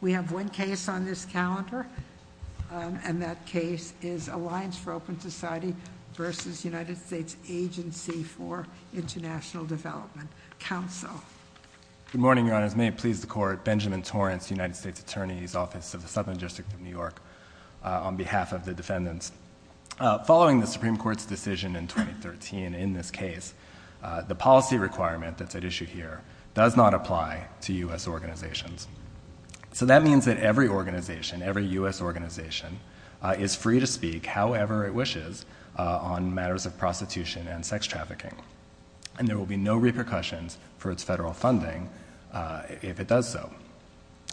We have one case on this calendar and that case is Alliance for Open Society versus United States Agency for International Development Council. Good morning, Your Honors. May it please the Court, Benjamin Torrance, United States Attorney's Office of the Southern District of New York on behalf of the defendants. Following the Supreme Court's decision in 2013 in this case, the policy requirement that's at issue here does not apply to U.S. organizations. So that means that every organization, every U.S. organization, is free to speak however it wishes on matters of prostitution and sex trafficking. And there will be no repercussions for its federal funding if it does so.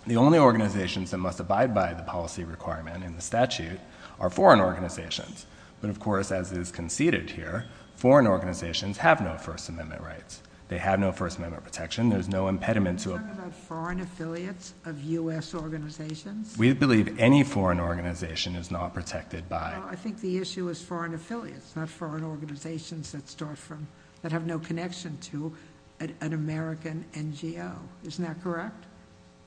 The only organizations that must abide by the policy requirement in the statute are foreign organizations. But of course, as is conceded here, foreign organizations have no First Amendment protection. They have no First Amendment protection. There's no impediment to a... Is that about foreign affiliates of U.S. organizations? We believe any foreign organization is not protected by... Well, I think the issue is foreign affiliates, not foreign organizations that start from... that have no connection to an American NGO. Isn't that correct?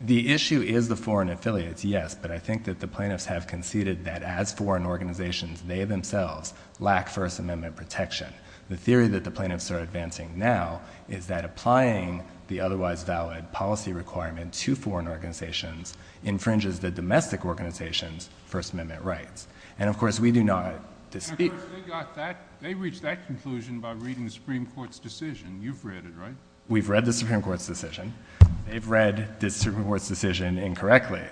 The issue is the foreign affiliates, yes, but I think that the plaintiffs have conceded that as foreign organizations, they themselves lack First Amendment protection. The theory that the plaintiffs are advancing now is that applying the otherwise valid policy requirement to foreign organizations infringes the domestic organization's First Amendment rights. And of course, we do not... They got that. They reached that conclusion by reading the Supreme Court's decision. You've read it, right? We've read the Supreme Court's decision. They've read the Supreme Court's decision incorrectly.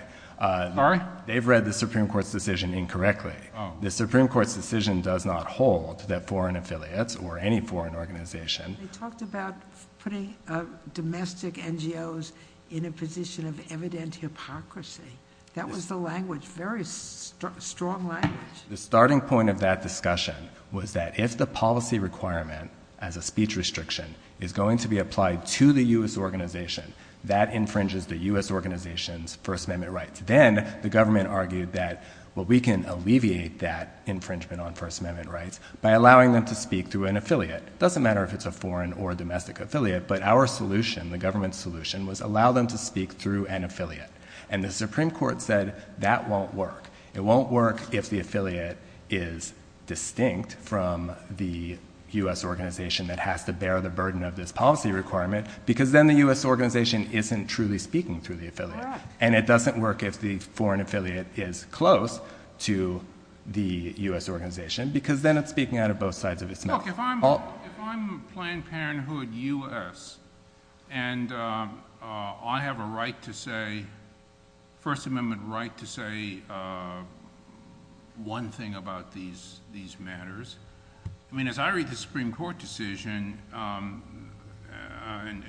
Sorry? They've read the Supreme Court's decision incorrectly. The Supreme Court's decision does not hold that foreign affiliates or any foreign organization... They talked about putting domestic NGOs in a position of evident hypocrisy. That was the language, very strong language. The starting point of that discussion was that if the policy requirement as a speech restriction is going to be applied to the U.S. organization, that infringes the U.S. organization's First Amendment rights. Then the government argued that we can alleviate that infringement on First Amendment rights by allowing them to speak through an affiliate. It doesn't matter if it's a foreign or a domestic affiliate, but our solution, the government's solution, was allow them to speak through an affiliate. And the Supreme Court said that won't work. It won't work if the affiliate is distinct from the U.S. organization that has to bear the burden of this policy requirement because then the U.S. organization isn't truly speaking through the affiliate. And it doesn't work if the foreign affiliate is close to the U.S. organization because then it's speaking out of both sides of its mouth. Look, if I'm Planned Parenthood U.S. and I have a right to say, First Amendment right to say one thing about these matters, I mean, as I read the Supreme Court decision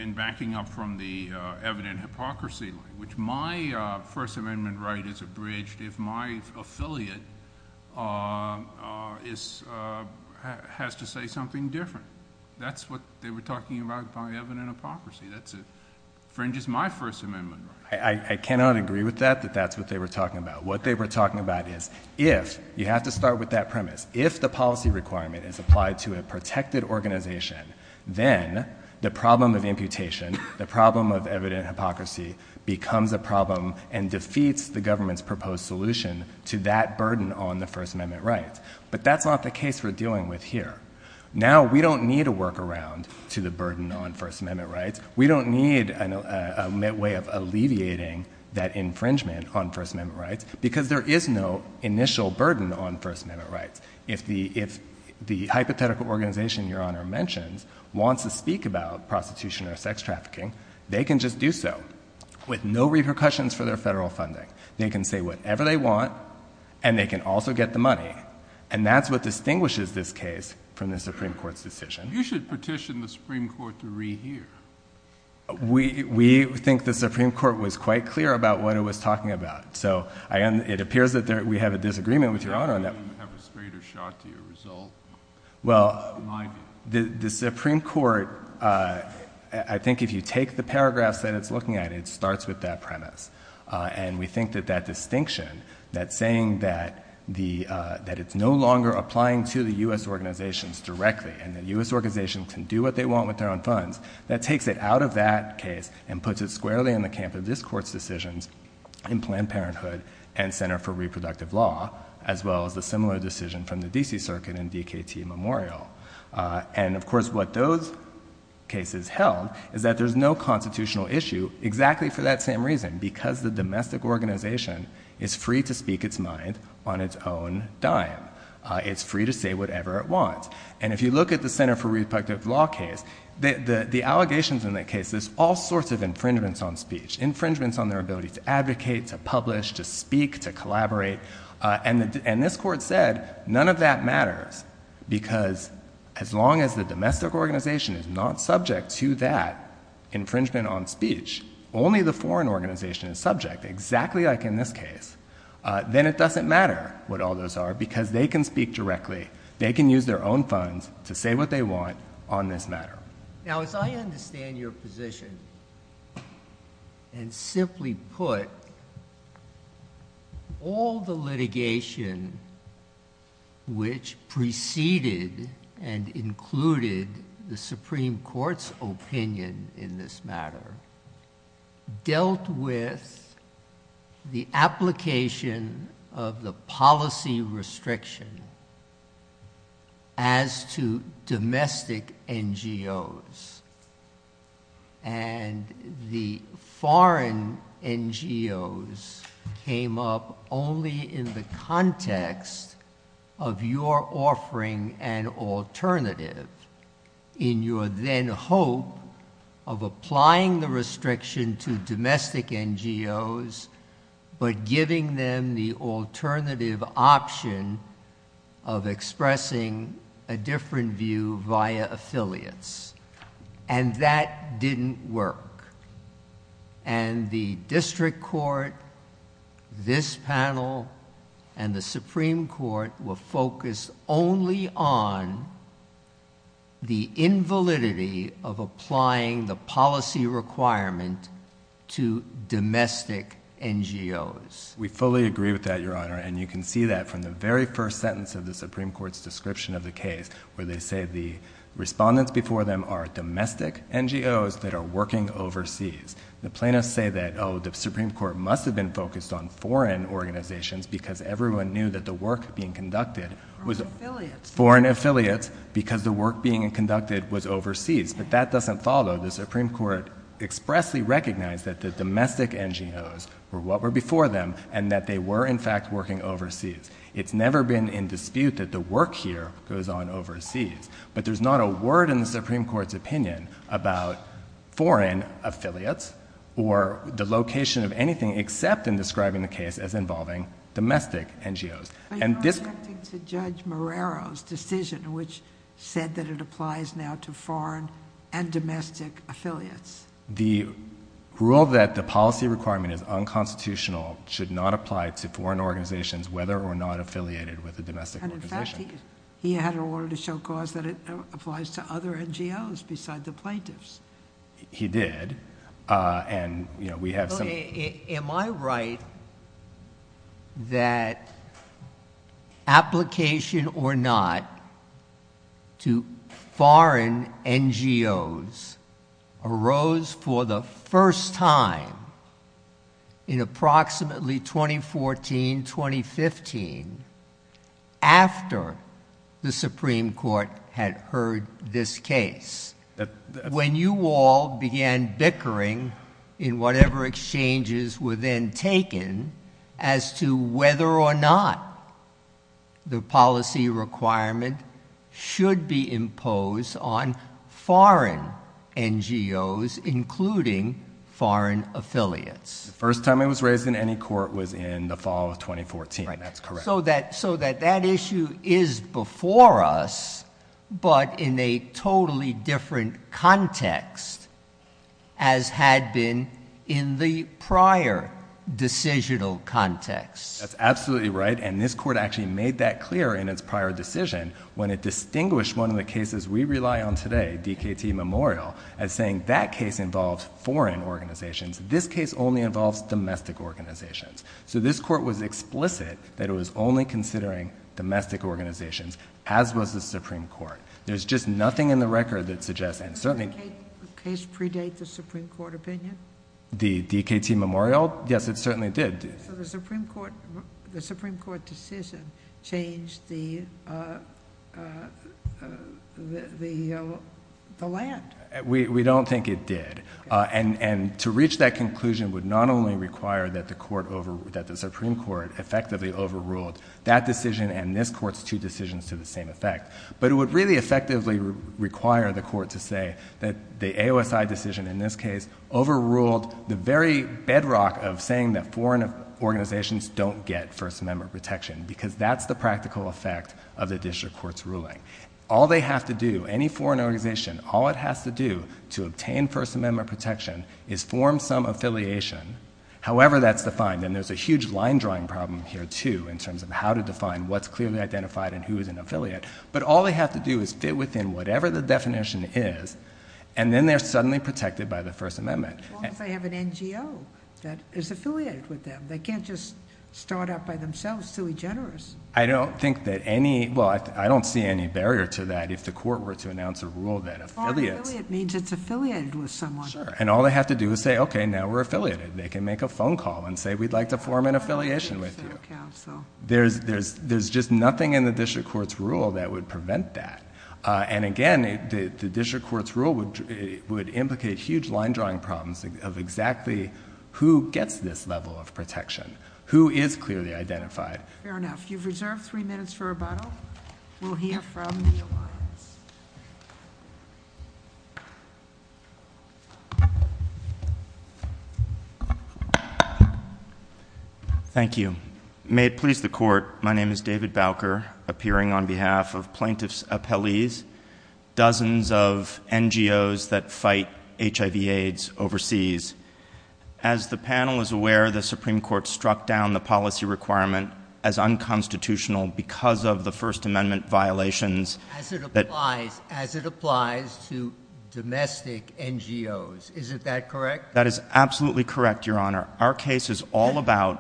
in backing up from the evident hypocrisy, which my First Amendment right is abridged if my affiliate has to say something different. That's what they were talking about by evident hypocrisy. That infringes my First Amendment right. I cannot agree with that, that that's what they were talking about. What they were talking about is if, you have to start with that premise, if the policy requirement is applied to a imputation, the problem of evident hypocrisy becomes a problem and defeats the government's proposed solution to that burden on the First Amendment rights. But that's not the case we're dealing with here. Now, we don't need a workaround to the burden on First Amendment rights. We don't need a way of alleviating that infringement on First Amendment rights because there is no initial burden on First Amendment rights. If the hypothetical organization Your Honor mentions wants to speak about prostitution or sex trafficking, they can just do so with no repercussions for their federal funding. They can say whatever they want and they can also get the money. And that's what distinguishes this case from the Supreme Court's decision. You should petition the Supreme Court to rehear. We think the Supreme Court was quite clear about what it was talking about. So, it appears that we have a disagreement with Your Honor on that. Why don't you have a straighter shot to your result? Well, the Supreme Court, I think if you take the paragraphs that it's looking at, it starts with that premise. And we think that that distinction, that saying that it's no longer applying to the U.S. organizations directly and the U.S. organizations can do what they want with their own funds, that takes it out of that case and puts it squarely in the camp of this Court's decisions in Planned Parenthood and Center for Reproductive Law, as well as a similar decision from the D.C. Circuit and DKT Memorial. And of course, what those cases held is that there's no constitutional issue exactly for that same reason, because the domestic organization is free to speak its mind on its own dime. It's free to say whatever it wants. And if you look at the Center for Reproductive Law case, the allegations in that case is all sorts of infringements on speech, infringements on their ability to advocate, to publish, to speak, to collaborate. And this Court said none of that matters, because as long as the domestic organization is not subject to that infringement on speech, only the foreign organization is subject, exactly like in this case, then it doesn't matter what all those are because they can speak directly. They can use their own funds to say what they want on this matter. Now, as I understand your position, and simply put, all the litigation which preceded and included the Supreme Court's opinion in this matter dealt with the application of the policy restriction as to domestic NGOs. And the foreign NGOs came up only in the context of your offering an alternative in your then hope of applying the restriction to domestic NGOs, but giving them the alternative option of expressing a different view via affiliates. And that didn't work. And the District Court, this panel, and the Supreme Court were focused only on the invalidity of applying the policy requirement to domestic NGOs. We fully agree with that, Your Honor. And you can see that from the very first sentence of the Supreme Court's description of the case, where they say the respondents before them are domestic NGOs that are working overseas. The plaintiffs say that, oh, the Supreme Court must have been focused on foreign organizations because everyone knew that the work being conducted was foreign affiliates because the work being conducted was overseas. But that doesn't follow. The Supreme Court expressly recognized that the domestic NGOs were what were before them, and that they were, in fact, working overseas. It's never been in dispute that the work here goes on overseas. But there's not a word in the Supreme Court's opinion about foreign affiliates or the location of anything except in describing the case as involving domestic NGOs. And this- But you're objecting to Judge Morero's decision, which said that it applies now to foreign and domestic affiliates. The rule that the policy requirement is unconstitutional should not apply to foreign organizations, whether or not affiliated with a domestic organization. And in fact, he had an order to show cause that it applies to other NGOs besides the plaintiffs. He did. And, you know, we have some- Am I right that application or not to foreign NGOs arose for the first time in approximately 2014, 2015, after the Supreme Court had heard this case? When you all began bickering in whatever exchanges were then taken as to whether or not the policy requirement should be imposed on foreign NGOs, including foreign affiliates? First time it was raised in any court was in the fall of 2014. That's correct. So that issue is before us, but in a totally different context, as had been in the prior decisional context. That's absolutely right. And this court actually made that clear in its prior decision when it distinguished one of the cases we rely on today, DKT Memorial, as saying that case involves foreign organizations. This case only involves domestic organizations. So this court was explicit that it was only considering domestic organizations, as was the Supreme Court. There's just nothing in the record that suggests and certainly- Did the case predate the Supreme Court opinion? The DKT Memorial? Yes, it certainly did. So the Supreme Court decision changed the land? We don't think it did. And to reach that conclusion would not only require that the Supreme Court effectively overruled that decision and this court's two decisions to the same effect, but it would really effectively require the court to say that the AOSI decision in this case overruled the very bedrock of saying that foreign organizations don't get First Amendment protection, because that's the practical effect of the district court's ruling. All they have to do, any foreign organization, all it has to do to obtain First Amendment protection is form some affiliation, however that's defined. And there's a huge line drawing problem here, too, in terms of how to define what's clearly identified and who is an affiliate. But all they have to do is fit within whatever the definition is, and then they're suddenly protected by the First Amendment. As long as they have an NGO that is affiliated with them. They can't just start up by themselves, silly generous. I don't think that any, well, I don't see any barrier to that if the court were to announce a rule that affiliates- Foreign affiliate means it's affiliated with someone. Sure. And all they have to do is say, okay, now we're affiliated. They can make a phone call and say, we'd like to form an affiliation with you. There's just nothing in the district court's rule that would prevent that. And again, the district court's rule would implicate huge line drawing problems of exactly who gets this level of protection, who is clearly identified. Fair enough. You've reserved three minutes for rebuttal. We'll hear from the alliance. Thank you. May it please the court. My name is David Bowker, appearing on behalf of plaintiffs appellees, dozens of NGOs that fight HIV AIDS overseas. As the panel is aware, the Supreme Court struck down the policy requirement as unconstitutional because of the First Amendment violations- As it applies, as it applies to domestic NGOs. Is it that correct? That is absolutely correct, Your Honor. Our case is all about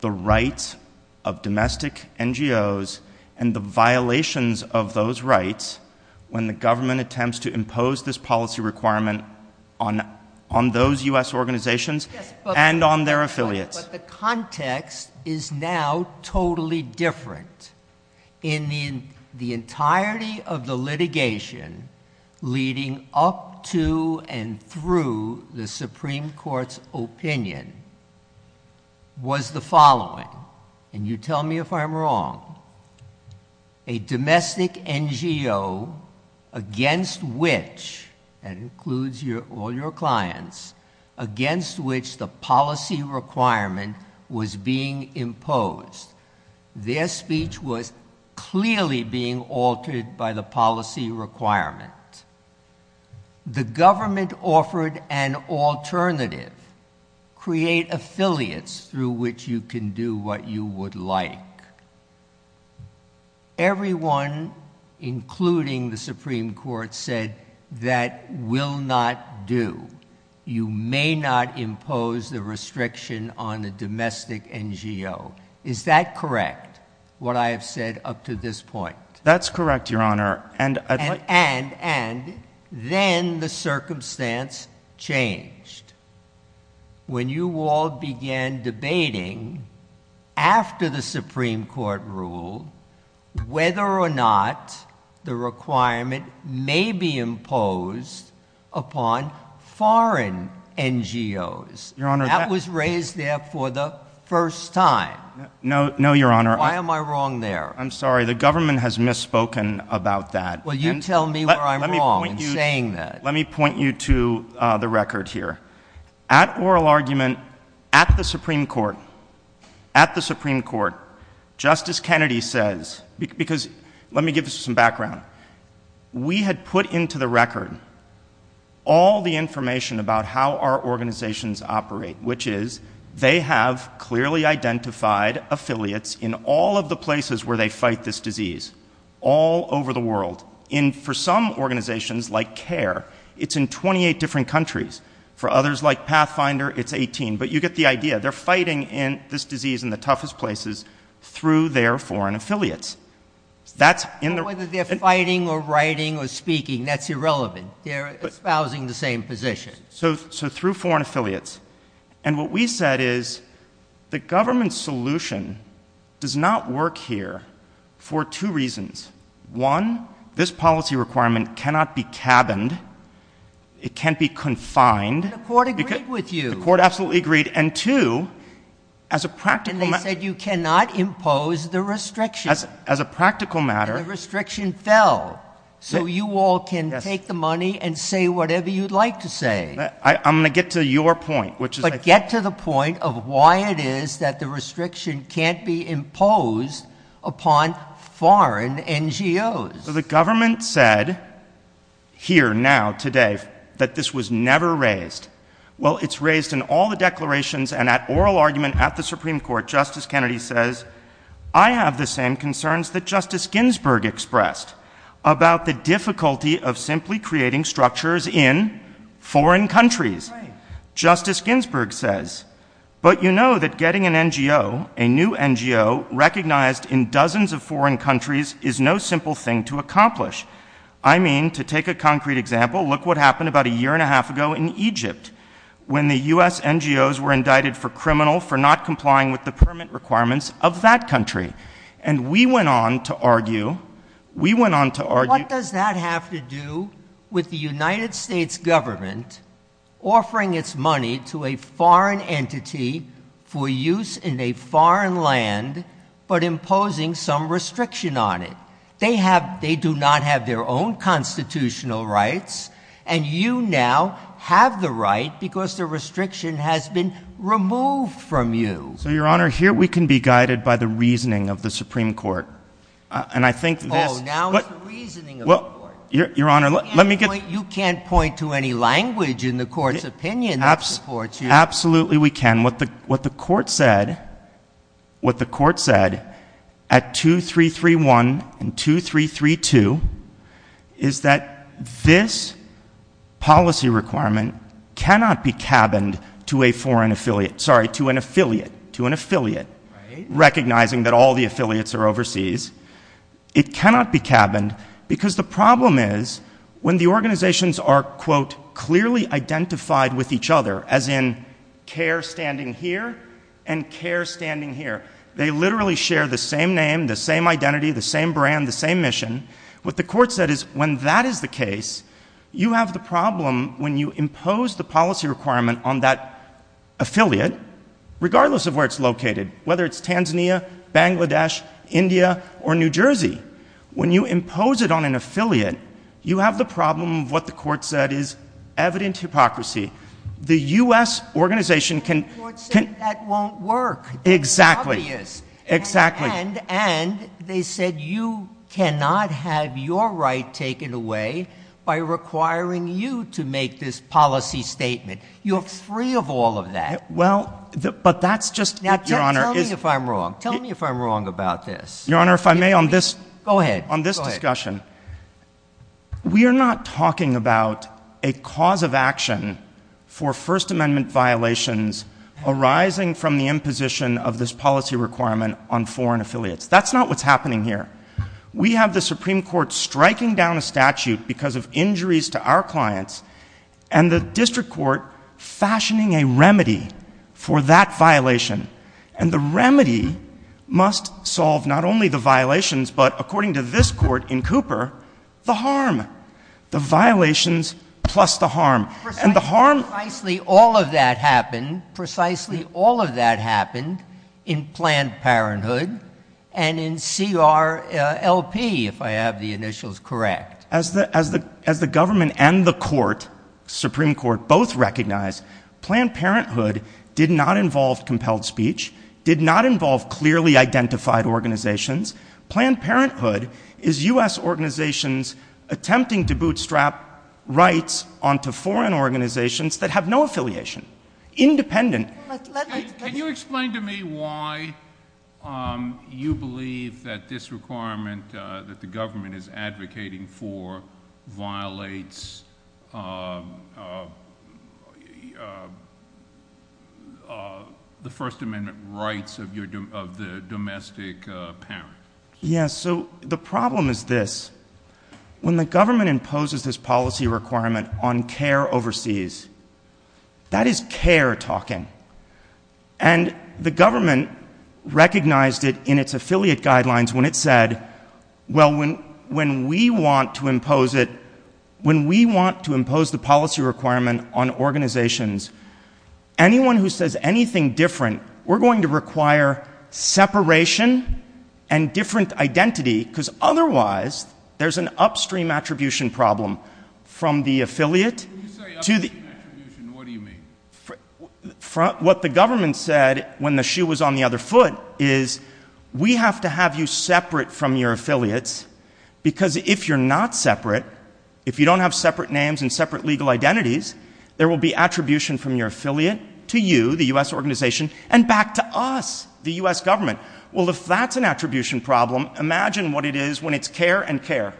the rights of domestic NGOs and the violations of those rights when the government attempts to impose this policy requirement on, on those US organizations and on their affiliates. But the context is now totally different. In the, the entirety of the litigation leading up to and through the Supreme Court's opinion was the following, and you tell me if I'm wrong, a domestic NGO against which, that includes your, all your clients, against which the policy requirement was being imposed. Their speech was clearly being altered by the policy requirement. The government offered an alternative, create affiliates through which you can do what you would like. Everyone, including the Supreme Court, said that will not do. You may not impose the restriction on a domestic NGO. Is that correct? What I have said up to this point? That's correct, Your Honor. And I'd like- And, and, then the circumstance changed. When you all began debating after the Supreme Court rule whether or not the requirement may be imposed upon foreign NGOs. Your Honor, that- That was raised there for the first time. No, no, Your Honor. Why am I wrong there? I'm sorry. The government has misspoken about that. Well, you tell me where I'm wrong in saying that. Let me point you, let me point you to the record here. At oral argument, at the Supreme Court, at the Supreme Court, Justice Kennedy says, because, let me give you some background. We had put into the record all the information about how our organizations operate, which is they have clearly identified affiliates in all of the places where they fight this disease, all over the world. In, for some organizations, like CARE, it's in 28 different in the toughest places through their foreign affiliates. That's in the- Whether they're fighting or writing or speaking, that's irrelevant. They're espousing the same position. So, so through foreign affiliates. And what we said is the government's solution does not work here for two reasons. One, this policy requirement cannot be cabined. It can't be confined. The court agreed with you. The court absolutely agreed. And two, as a practical matter- And they said you cannot impose the restriction. As a practical matter- And the restriction fell. So you all can take the money and say whatever you'd like to say. I'm going to get to your point, which is- But get to the point of why it is that the restriction can't be imposed upon foreign NGOs. The government said here, now, today, that this was never raised. Well, it's raised in all the declarations and at oral argument at the Supreme Court. Justice Kennedy says, I have the same concerns that Justice Ginsburg expressed about the difficulty of simply creating structures in foreign countries. Justice Ginsburg says, but you know that getting an NGO, a I mean, to take a concrete example, look what happened about a year and a half ago in Egypt when the U.S. NGOs were indicted for criminal, for not complying with the permit requirements of that country. And we went on to argue, we went on to argue- What does that have to do with the United States government offering its money to a foreign entity for use in a foreign land but imposing some restriction on it? They have rights. They do not have their own constitutional rights. And you now have the right because the restriction has been removed from you. So, Your Honor, here we can be guided by the reasoning of the Supreme Court. And I think this- Oh, now it's the reasoning of the Court. Well, Your Honor, let me get- You can't point to any language in the Court's opinion that supports you. Absolutely we can. What the Court said at 2331 and 2332 is that this policy requirement cannot be cabined to a foreign affiliate, sorry, to an affiliate, to an affiliate, recognizing that all the affiliates are overseas. It cannot be cabined because the problem is when the care standing here and care standing here. They literally share the same name, the same identity, the same brand, the same mission. What the Court said is when that is the case, you have the problem when you impose the policy requirement on that affiliate, regardless of where it's located, whether it's Tanzania, Bangladesh, India, or New Jersey. When you impose it on an affiliate, you have the problem of what the Court said is evident hypocrisy. The U.S. organization can- The Court said that won't work. Exactly. It's obvious. Exactly. And they said you cannot have your right taken away by requiring you to make this policy statement. You're free of all of that. Well, but that's just- Now, tell me if I'm wrong. Tell me if I'm wrong about this. Your Honor, if I may on this- Go ahead. On this discussion, we are not talking about a cause of action for First Amendment violations arising from the imposition of this policy requirement on foreign affiliates. That's not what's happening here. We have the Supreme Court striking down a statute because of injuries to our clients and the District Court fashioning a remedy for that violation. And the remedy must solve not only the violations, but according to this Court in Cooper, the harm. The violations plus the harm. And the harm- Precisely all of that happened. Precisely all of that happened in Planned Parenthood and in CRLP, if I have the initials correct. As the government and the Court, Supreme Court, both recognize Planned Parenthood did not involve clearly identified organizations. Planned Parenthood is U.S. organizations attempting to bootstrap rights onto foreign organizations that have no affiliation. Independent- Can you explain to me why you believe that this requirement that the government is advocating for violates the First Amendment rights of the domestic parent? Yes. So the problem is this. When the government imposes this policy requirement on care overseas, that is care talking. And the government recognized it in its affiliate guidelines when it said, well, when we want to impose it, when we want to impose the policy requirement on organizations, anyone who says anything different, we're going to require separation and different identity because otherwise there's an upstream attribution problem from the affiliate- When you say upstream attribution, what do you mean? What the government said when the shoe was on the other foot is we have to have you separate from your affiliates because if you're not separate, if you don't have separate names and separate legal identities, there will be attribution from your affiliate to you, the U.S. organization, and back to us, the U.S. government. Well, if that's an attribution problem, imagine what it is when it's care and care.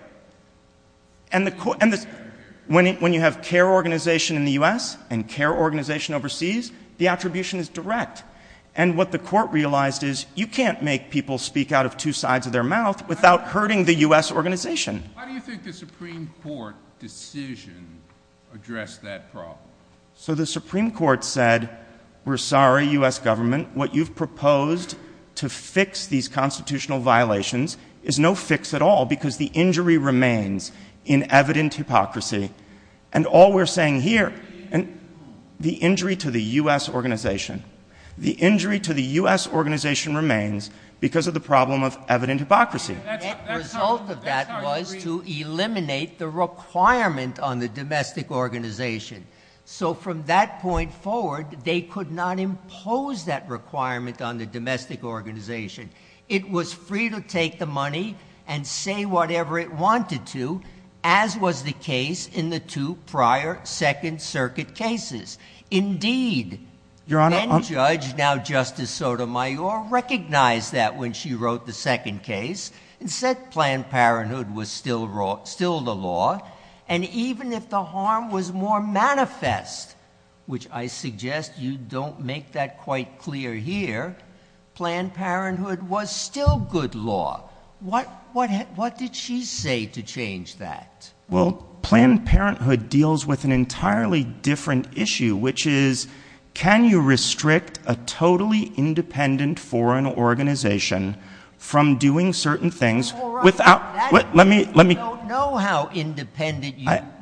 And when you have care organization in the U.S. and care organization overseas, the attribution is direct. And what the Court realized is you can't make people speak out of two sides of their mouth without hurting the U.S. organization. Why do you think the Supreme Court decision addressed that problem? So the Supreme Court said, we're sorry, U.S. government, what you've proposed to fix these constitutional violations is no fix at all because the injury remains in evident hypocrisy. And all we're saying here, the injury to the U.S. organization, the injury to the U.S. organization remains because of the problem of evident hypocrisy. The result of that was to eliminate the requirement on the domestic organization. So from that point forward, they could not impose that requirement on the domestic organization. It was free to take the money and say whatever it wanted to, as was the case in the two prior Second Circuit cases. Indeed, then Judge, now Justice Sotomayor, recognized that when she wrote the second case and said Planned Parenthood was still the law. And even if the harm was more manifest, which I suggest you don't make that quite clear here, Planned Parenthood was still good law. What did she say to change that? Well, Planned Parenthood deals with an entirely different issue, which is, can you restrict a totally independent foreign organization from doing certain things without... All right. That means you don't know how independent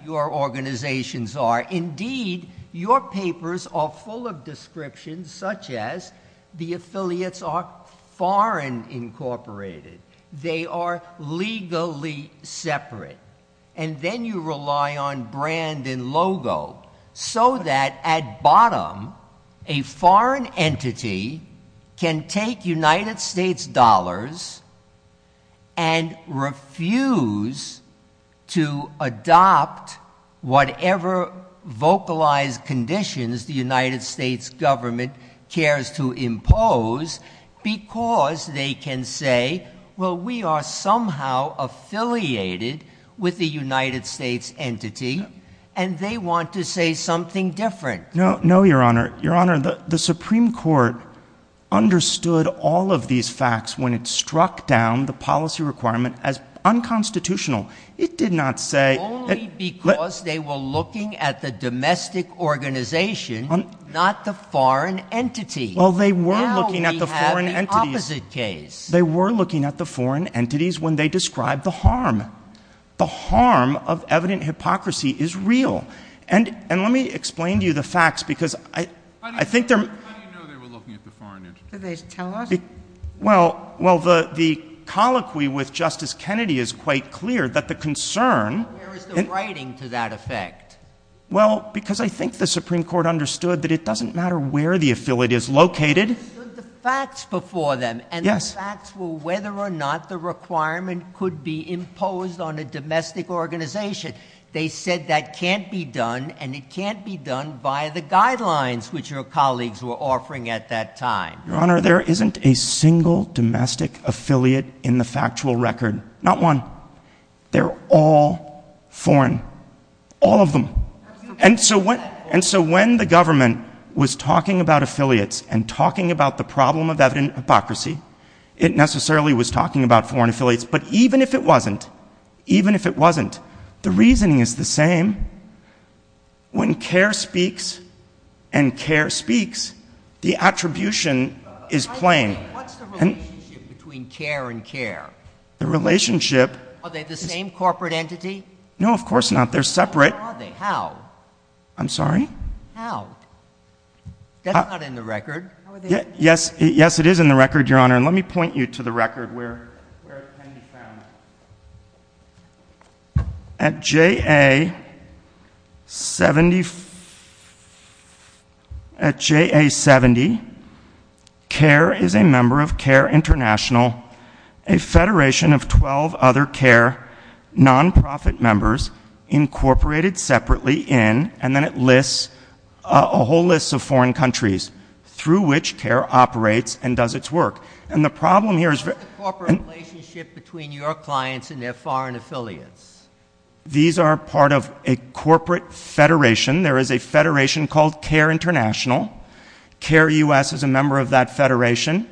your organizations are. Indeed, your papers are full of descriptions such as the affiliates are foreign incorporated. They are legally separate. And then you rely on brand and logo so that at bottom, a foreign entity can take United States dollars and refuse to adopt whatever vocalized conditions the United States government cares to impose because they can say, well, we are somehow affiliated with the United States entity and they want to say something different. No, no, Your Honor. Your Honor, the Supreme Court understood all of these facts when it struck down the policy requirement as unconstitutional. It did not say... Not the foreign entity. Well, they were looking at the foreign entities... Now we have the opposite case. They were looking at the foreign entities when they described the harm. The harm of evident hypocrisy is real. And let me explain to you the facts because I think they're... How do you know they were looking at the foreign entity? Did they tell us? Well, the colloquy with Justice Kennedy is quite clear that the concern... Where is the writing to that effect? Well, because I think the Supreme Court understood that it doesn't matter where the affiliate is located... They understood the facts before them and the facts were whether or not the requirement could be imposed on a domestic organization. They said that can't be done and it can't be done via the guidelines which your colleagues were offering at that time. Your Honor, there isn't a single domestic affiliate in the factual record. Not one. They're all foreign. All of them. And so when the government was talking about affiliates and talking about the problem of evident hypocrisy, it necessarily was talking about foreign affiliates. But even if it wasn't, even if it wasn't, the reasoning is the same. When Kerr speaks and Kerr speaks, the attribution is plain. What's the relationship between Kerr and Kerr? The relationship... Are they the same corporate entity? No, of course not. They're separate. How? I'm sorry? How? That's not in the record. Yes, it is in the record, Your Honor. And let me point you to the record where it can be found. At J.A. 70, Kerr is a member of Kerr International, a federation of 12 other Kerr associations where non-profit members incorporated separately in, and then it lists a whole list of foreign countries through which Kerr operates and does its work. And the problem here is... What's the corporate relationship between your clients and their foreign affiliates? These are part of a corporate federation. There is a federation called Kerr International. Kerr U.S. is a member of that federation,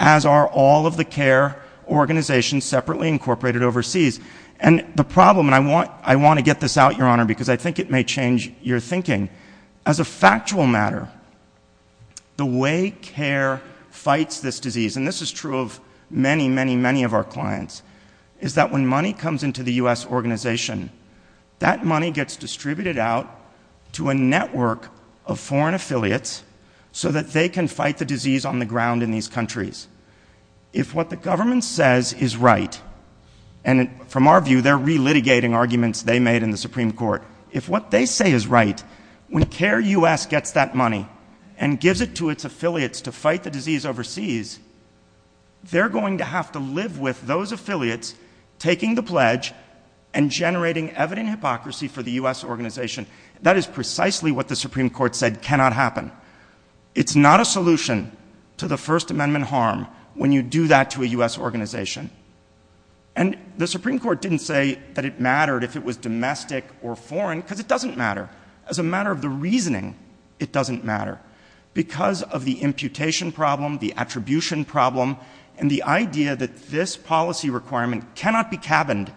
as are all of the Kerr organizations separately incorporated overseas. And the problem, and I want to get this out, Your Honor, because I think it may change your thinking. As a factual matter, the way Kerr fights this disease, and this is true of many, many, many of our clients, is that when money comes into the U.S. organization, that money gets distributed out to a network of foreign affiliates so that they can fight the disease on the ground in these countries. If what the government says is right, and from our view, they're re-litigating arguments they made in the Supreme Court. If what they say is right, when Kerr U.S. gets that money and gives it to its affiliates to fight the disease overseas, they're going to have to live with those affiliates taking the pledge and generating evident hypocrisy for the U.S. organization. That is precisely what the Supreme Court said cannot happen. It's not a solution to the First Amendment harm when you do that to a U.S. organization. And the Supreme Court didn't say that it mattered if it was domestic or foreign, because it doesn't matter. As a matter of the reasoning, it doesn't matter. Because of the imputation problem, the attribution problem, and the idea that this policy requirement cannot be cabined,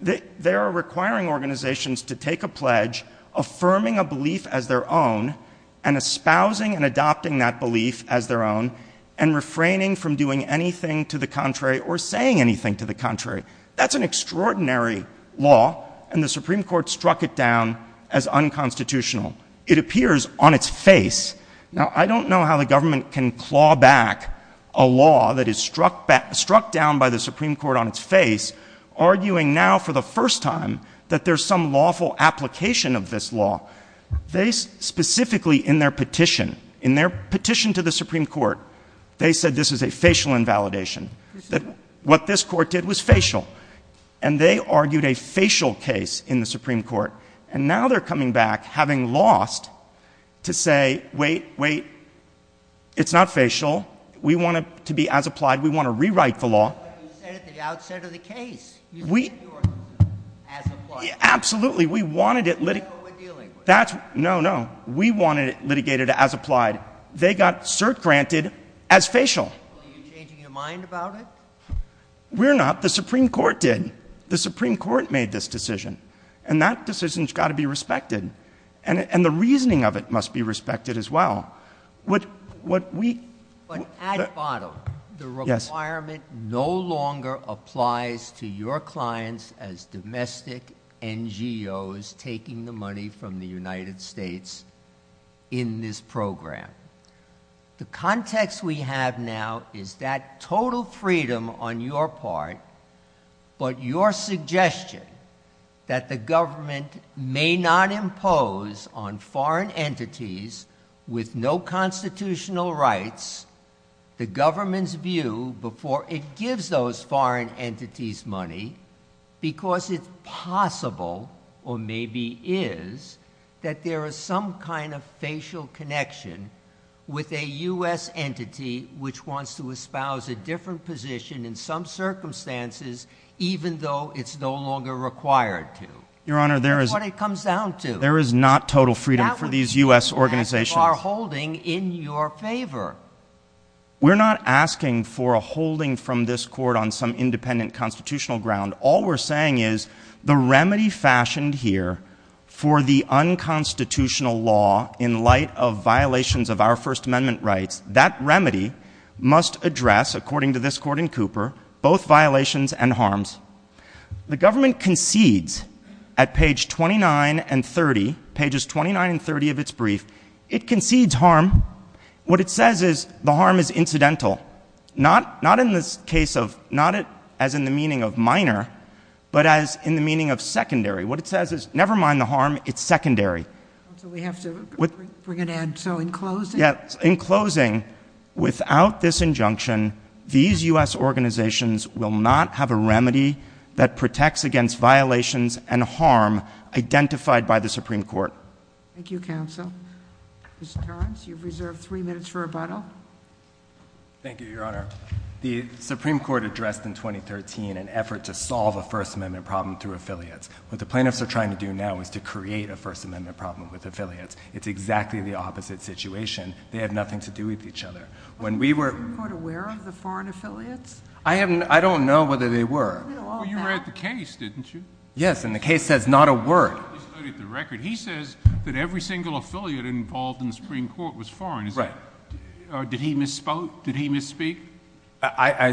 they are requiring organizations to take a pledge affirming a belief as their own, and espousing and adopting that belief as their own, and refraining from doing anything to the contrary or saying anything to the contrary. That's an extraordinary law, and the Supreme Court struck it down as unconstitutional. It appears on its face. Now, I don't know how the government can claw back a law that is struck down by the Supreme Court on its face, arguing now for the first time that there's some lawful application of this law. They specifically in their petition, in their petition to the Supreme Court, they said this is a facial invalidation. That what this court did was facial. And they argued a facial case in the Supreme Court. And now they're coming back having lost to say, wait, wait, it's not facial. We want it to be as applied. We absolutely, we wanted it litigated. That's what we're dealing with. No, no. We want it litigated as applied. They got cert granted as facial. Are you changing your mind about it? We're not. The Supreme Court did. The Supreme Court made this decision. And that decision's got to be respected. And the reasoning of it must be respected as well. What we But at the bottom, the requirement no longer applies to your clients as domestic and your NGOs taking the money from the United States in this program. The context we have now is that total freedom on your part, but your suggestion that the government may not impose on foreign entities with no constitutional rights, the government's view before it gives those foreign entities money because it's possible or maybe is that there is some kind of facial connection with a U.S. entity which wants to espouse a different position in some circumstances even though it's no longer required to. Your Honor, there is. That's what it comes down to. There is not total freedom for these U.S. organizations. That would be an act of our holding in your favor. We're not asking for a holding from this court on some independent constitutional ground. All we're saying is the remedy fashioned here for the unconstitutional law in light of violations of our First Amendment rights, that remedy must address, according to this court in Cooper, both violations and harms. The government concedes at pages 29 and 30 of its brief. It concedes harm. What it says is the harm is incidental. Not as in the meaning of minor, but as in the meaning of secondary. What it says is, never mind the harm, it's secondary. So we have to bring it in. So in closing? In closing, without this injunction, these U.S. organizations will not have a remedy that protects against violations and harm identified by the Supreme Court. Thank you, counsel. Mr. Torrence, you've reserved three minutes for rebuttal. Thank you, Your Honor. The Supreme Court addressed in 2013 an effort to solve a First Amendment problem through affiliates. What the plaintiffs are trying to do now is to create a First Amendment problem with affiliates. It's exactly the opposite situation. They have nothing to do with each other. Was the Supreme Court aware of the foreign affiliates? I don't know whether they were. Well, you read the case, didn't you? Yes, and the case says not a word. You studied the record. He says that every single affiliate involved in the Supreme Court was foreign. Did he misspoke? Did he misspeak? I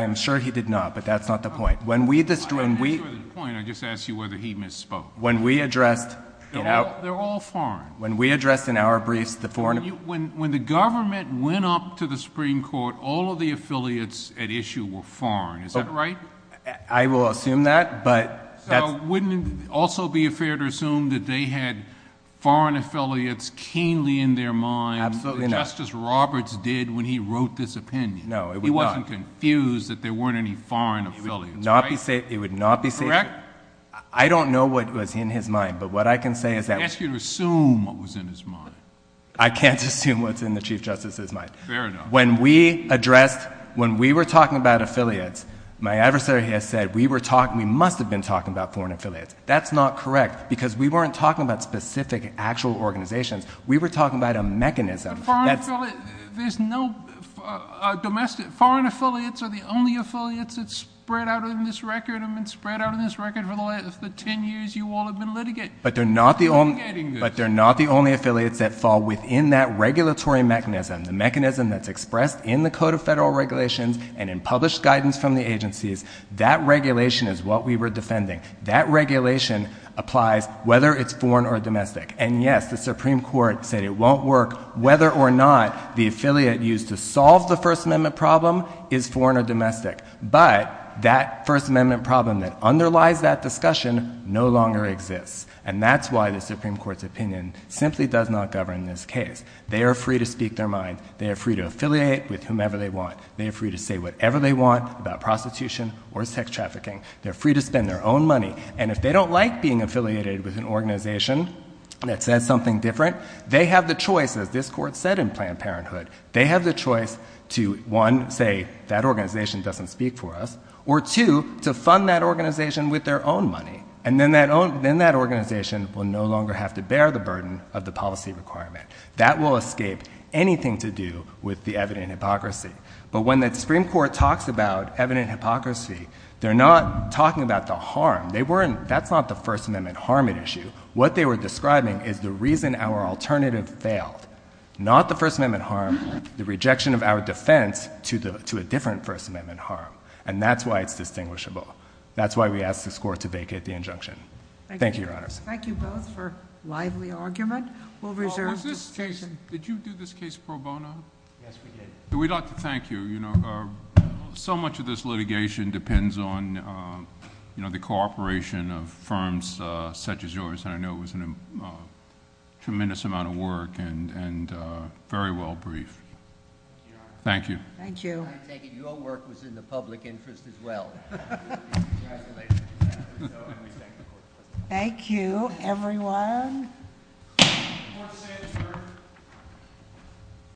am sure he did not, but that's not the point. I'm not sure that's the point. I just asked you whether he misspoke. When we addressed — They're all foreign. When we addressed in our briefs the foreign — When the government went up to the Supreme Court, all of the affiliates at issue were foreign. Is that right? I will assume that, but — So wouldn't it also be fair to assume that they had foreign affiliates keenly in their mind — Absolutely not. — just as Roberts did when he wrote this opinion? No, it would not. He wasn't confused that there weren't any foreign affiliates, right? It would not be safe — I don't know what was in his mind, but what I can say is that — He asked you to assume what was in his mind. I can't assume what's in the Chief Justice's mind. Fair enough. When we addressed — when we were talking about affiliates, my adversary has said we were talking — we must have been talking about foreign affiliates. That's not correct, because we weren't talking about specific, actual organizations. We were talking about a mechanism that's — But foreign affiliates — there's no domestic — foreign affiliates are the only affiliates that spread out in this record and have been spread out in this record for the last — for 10 years, you all have been litigating — But they're not the only —— litigating this. Affiliates that fall within that regulatory mechanism, the mechanism that's expressed in the Code of Federal Regulations and in published guidance from the agencies, that regulation is what we were defending. That regulation applies whether it's foreign or domestic. And yes, the Supreme Court said it won't work whether or not the affiliate used to solve the First Amendment problem is foreign or domestic. But that First Amendment problem that underlies that discussion no longer exists. And that's why the Supreme Court's opinion simply does not govern this case. They are free to speak their mind. They are free to affiliate with whomever they want. They are free to say whatever they want about prostitution or sex trafficking. They're free to spend their own money. And if they don't like being affiliated with an organization that says something different, they have the choice, as this Court said in Planned Parenthood, they have the choice to, one, say, that organization doesn't speak for us, or, two, to fund that organization with their own money. And then that organization will no longer have to bear the burden of the policy requirement. That will escape anything to do with the evident hypocrisy. But when the Supreme Court talks about evident hypocrisy, they're not talking about the harm. That's not the First Amendment harm at issue. What they were describing is the reason our alternative failed, not the First Amendment harm, the rejection of our defense to a different First Amendment harm. And that's why it's distinguishable. That's why we ask this Court to vacate the injunction. Thank you, Your Honors. Thank you both for a lively argument. Well, was this case—did you do this case pro bono? Yes, we did. We'd like to thank you. You know, so much of this litigation depends on, you know, the cooperation of firms such as yours. And I know it was a tremendous amount of work and very well briefed. Thank you. Thank you. I take it your work was in the public interest as well. Congratulations. Thank you, everyone.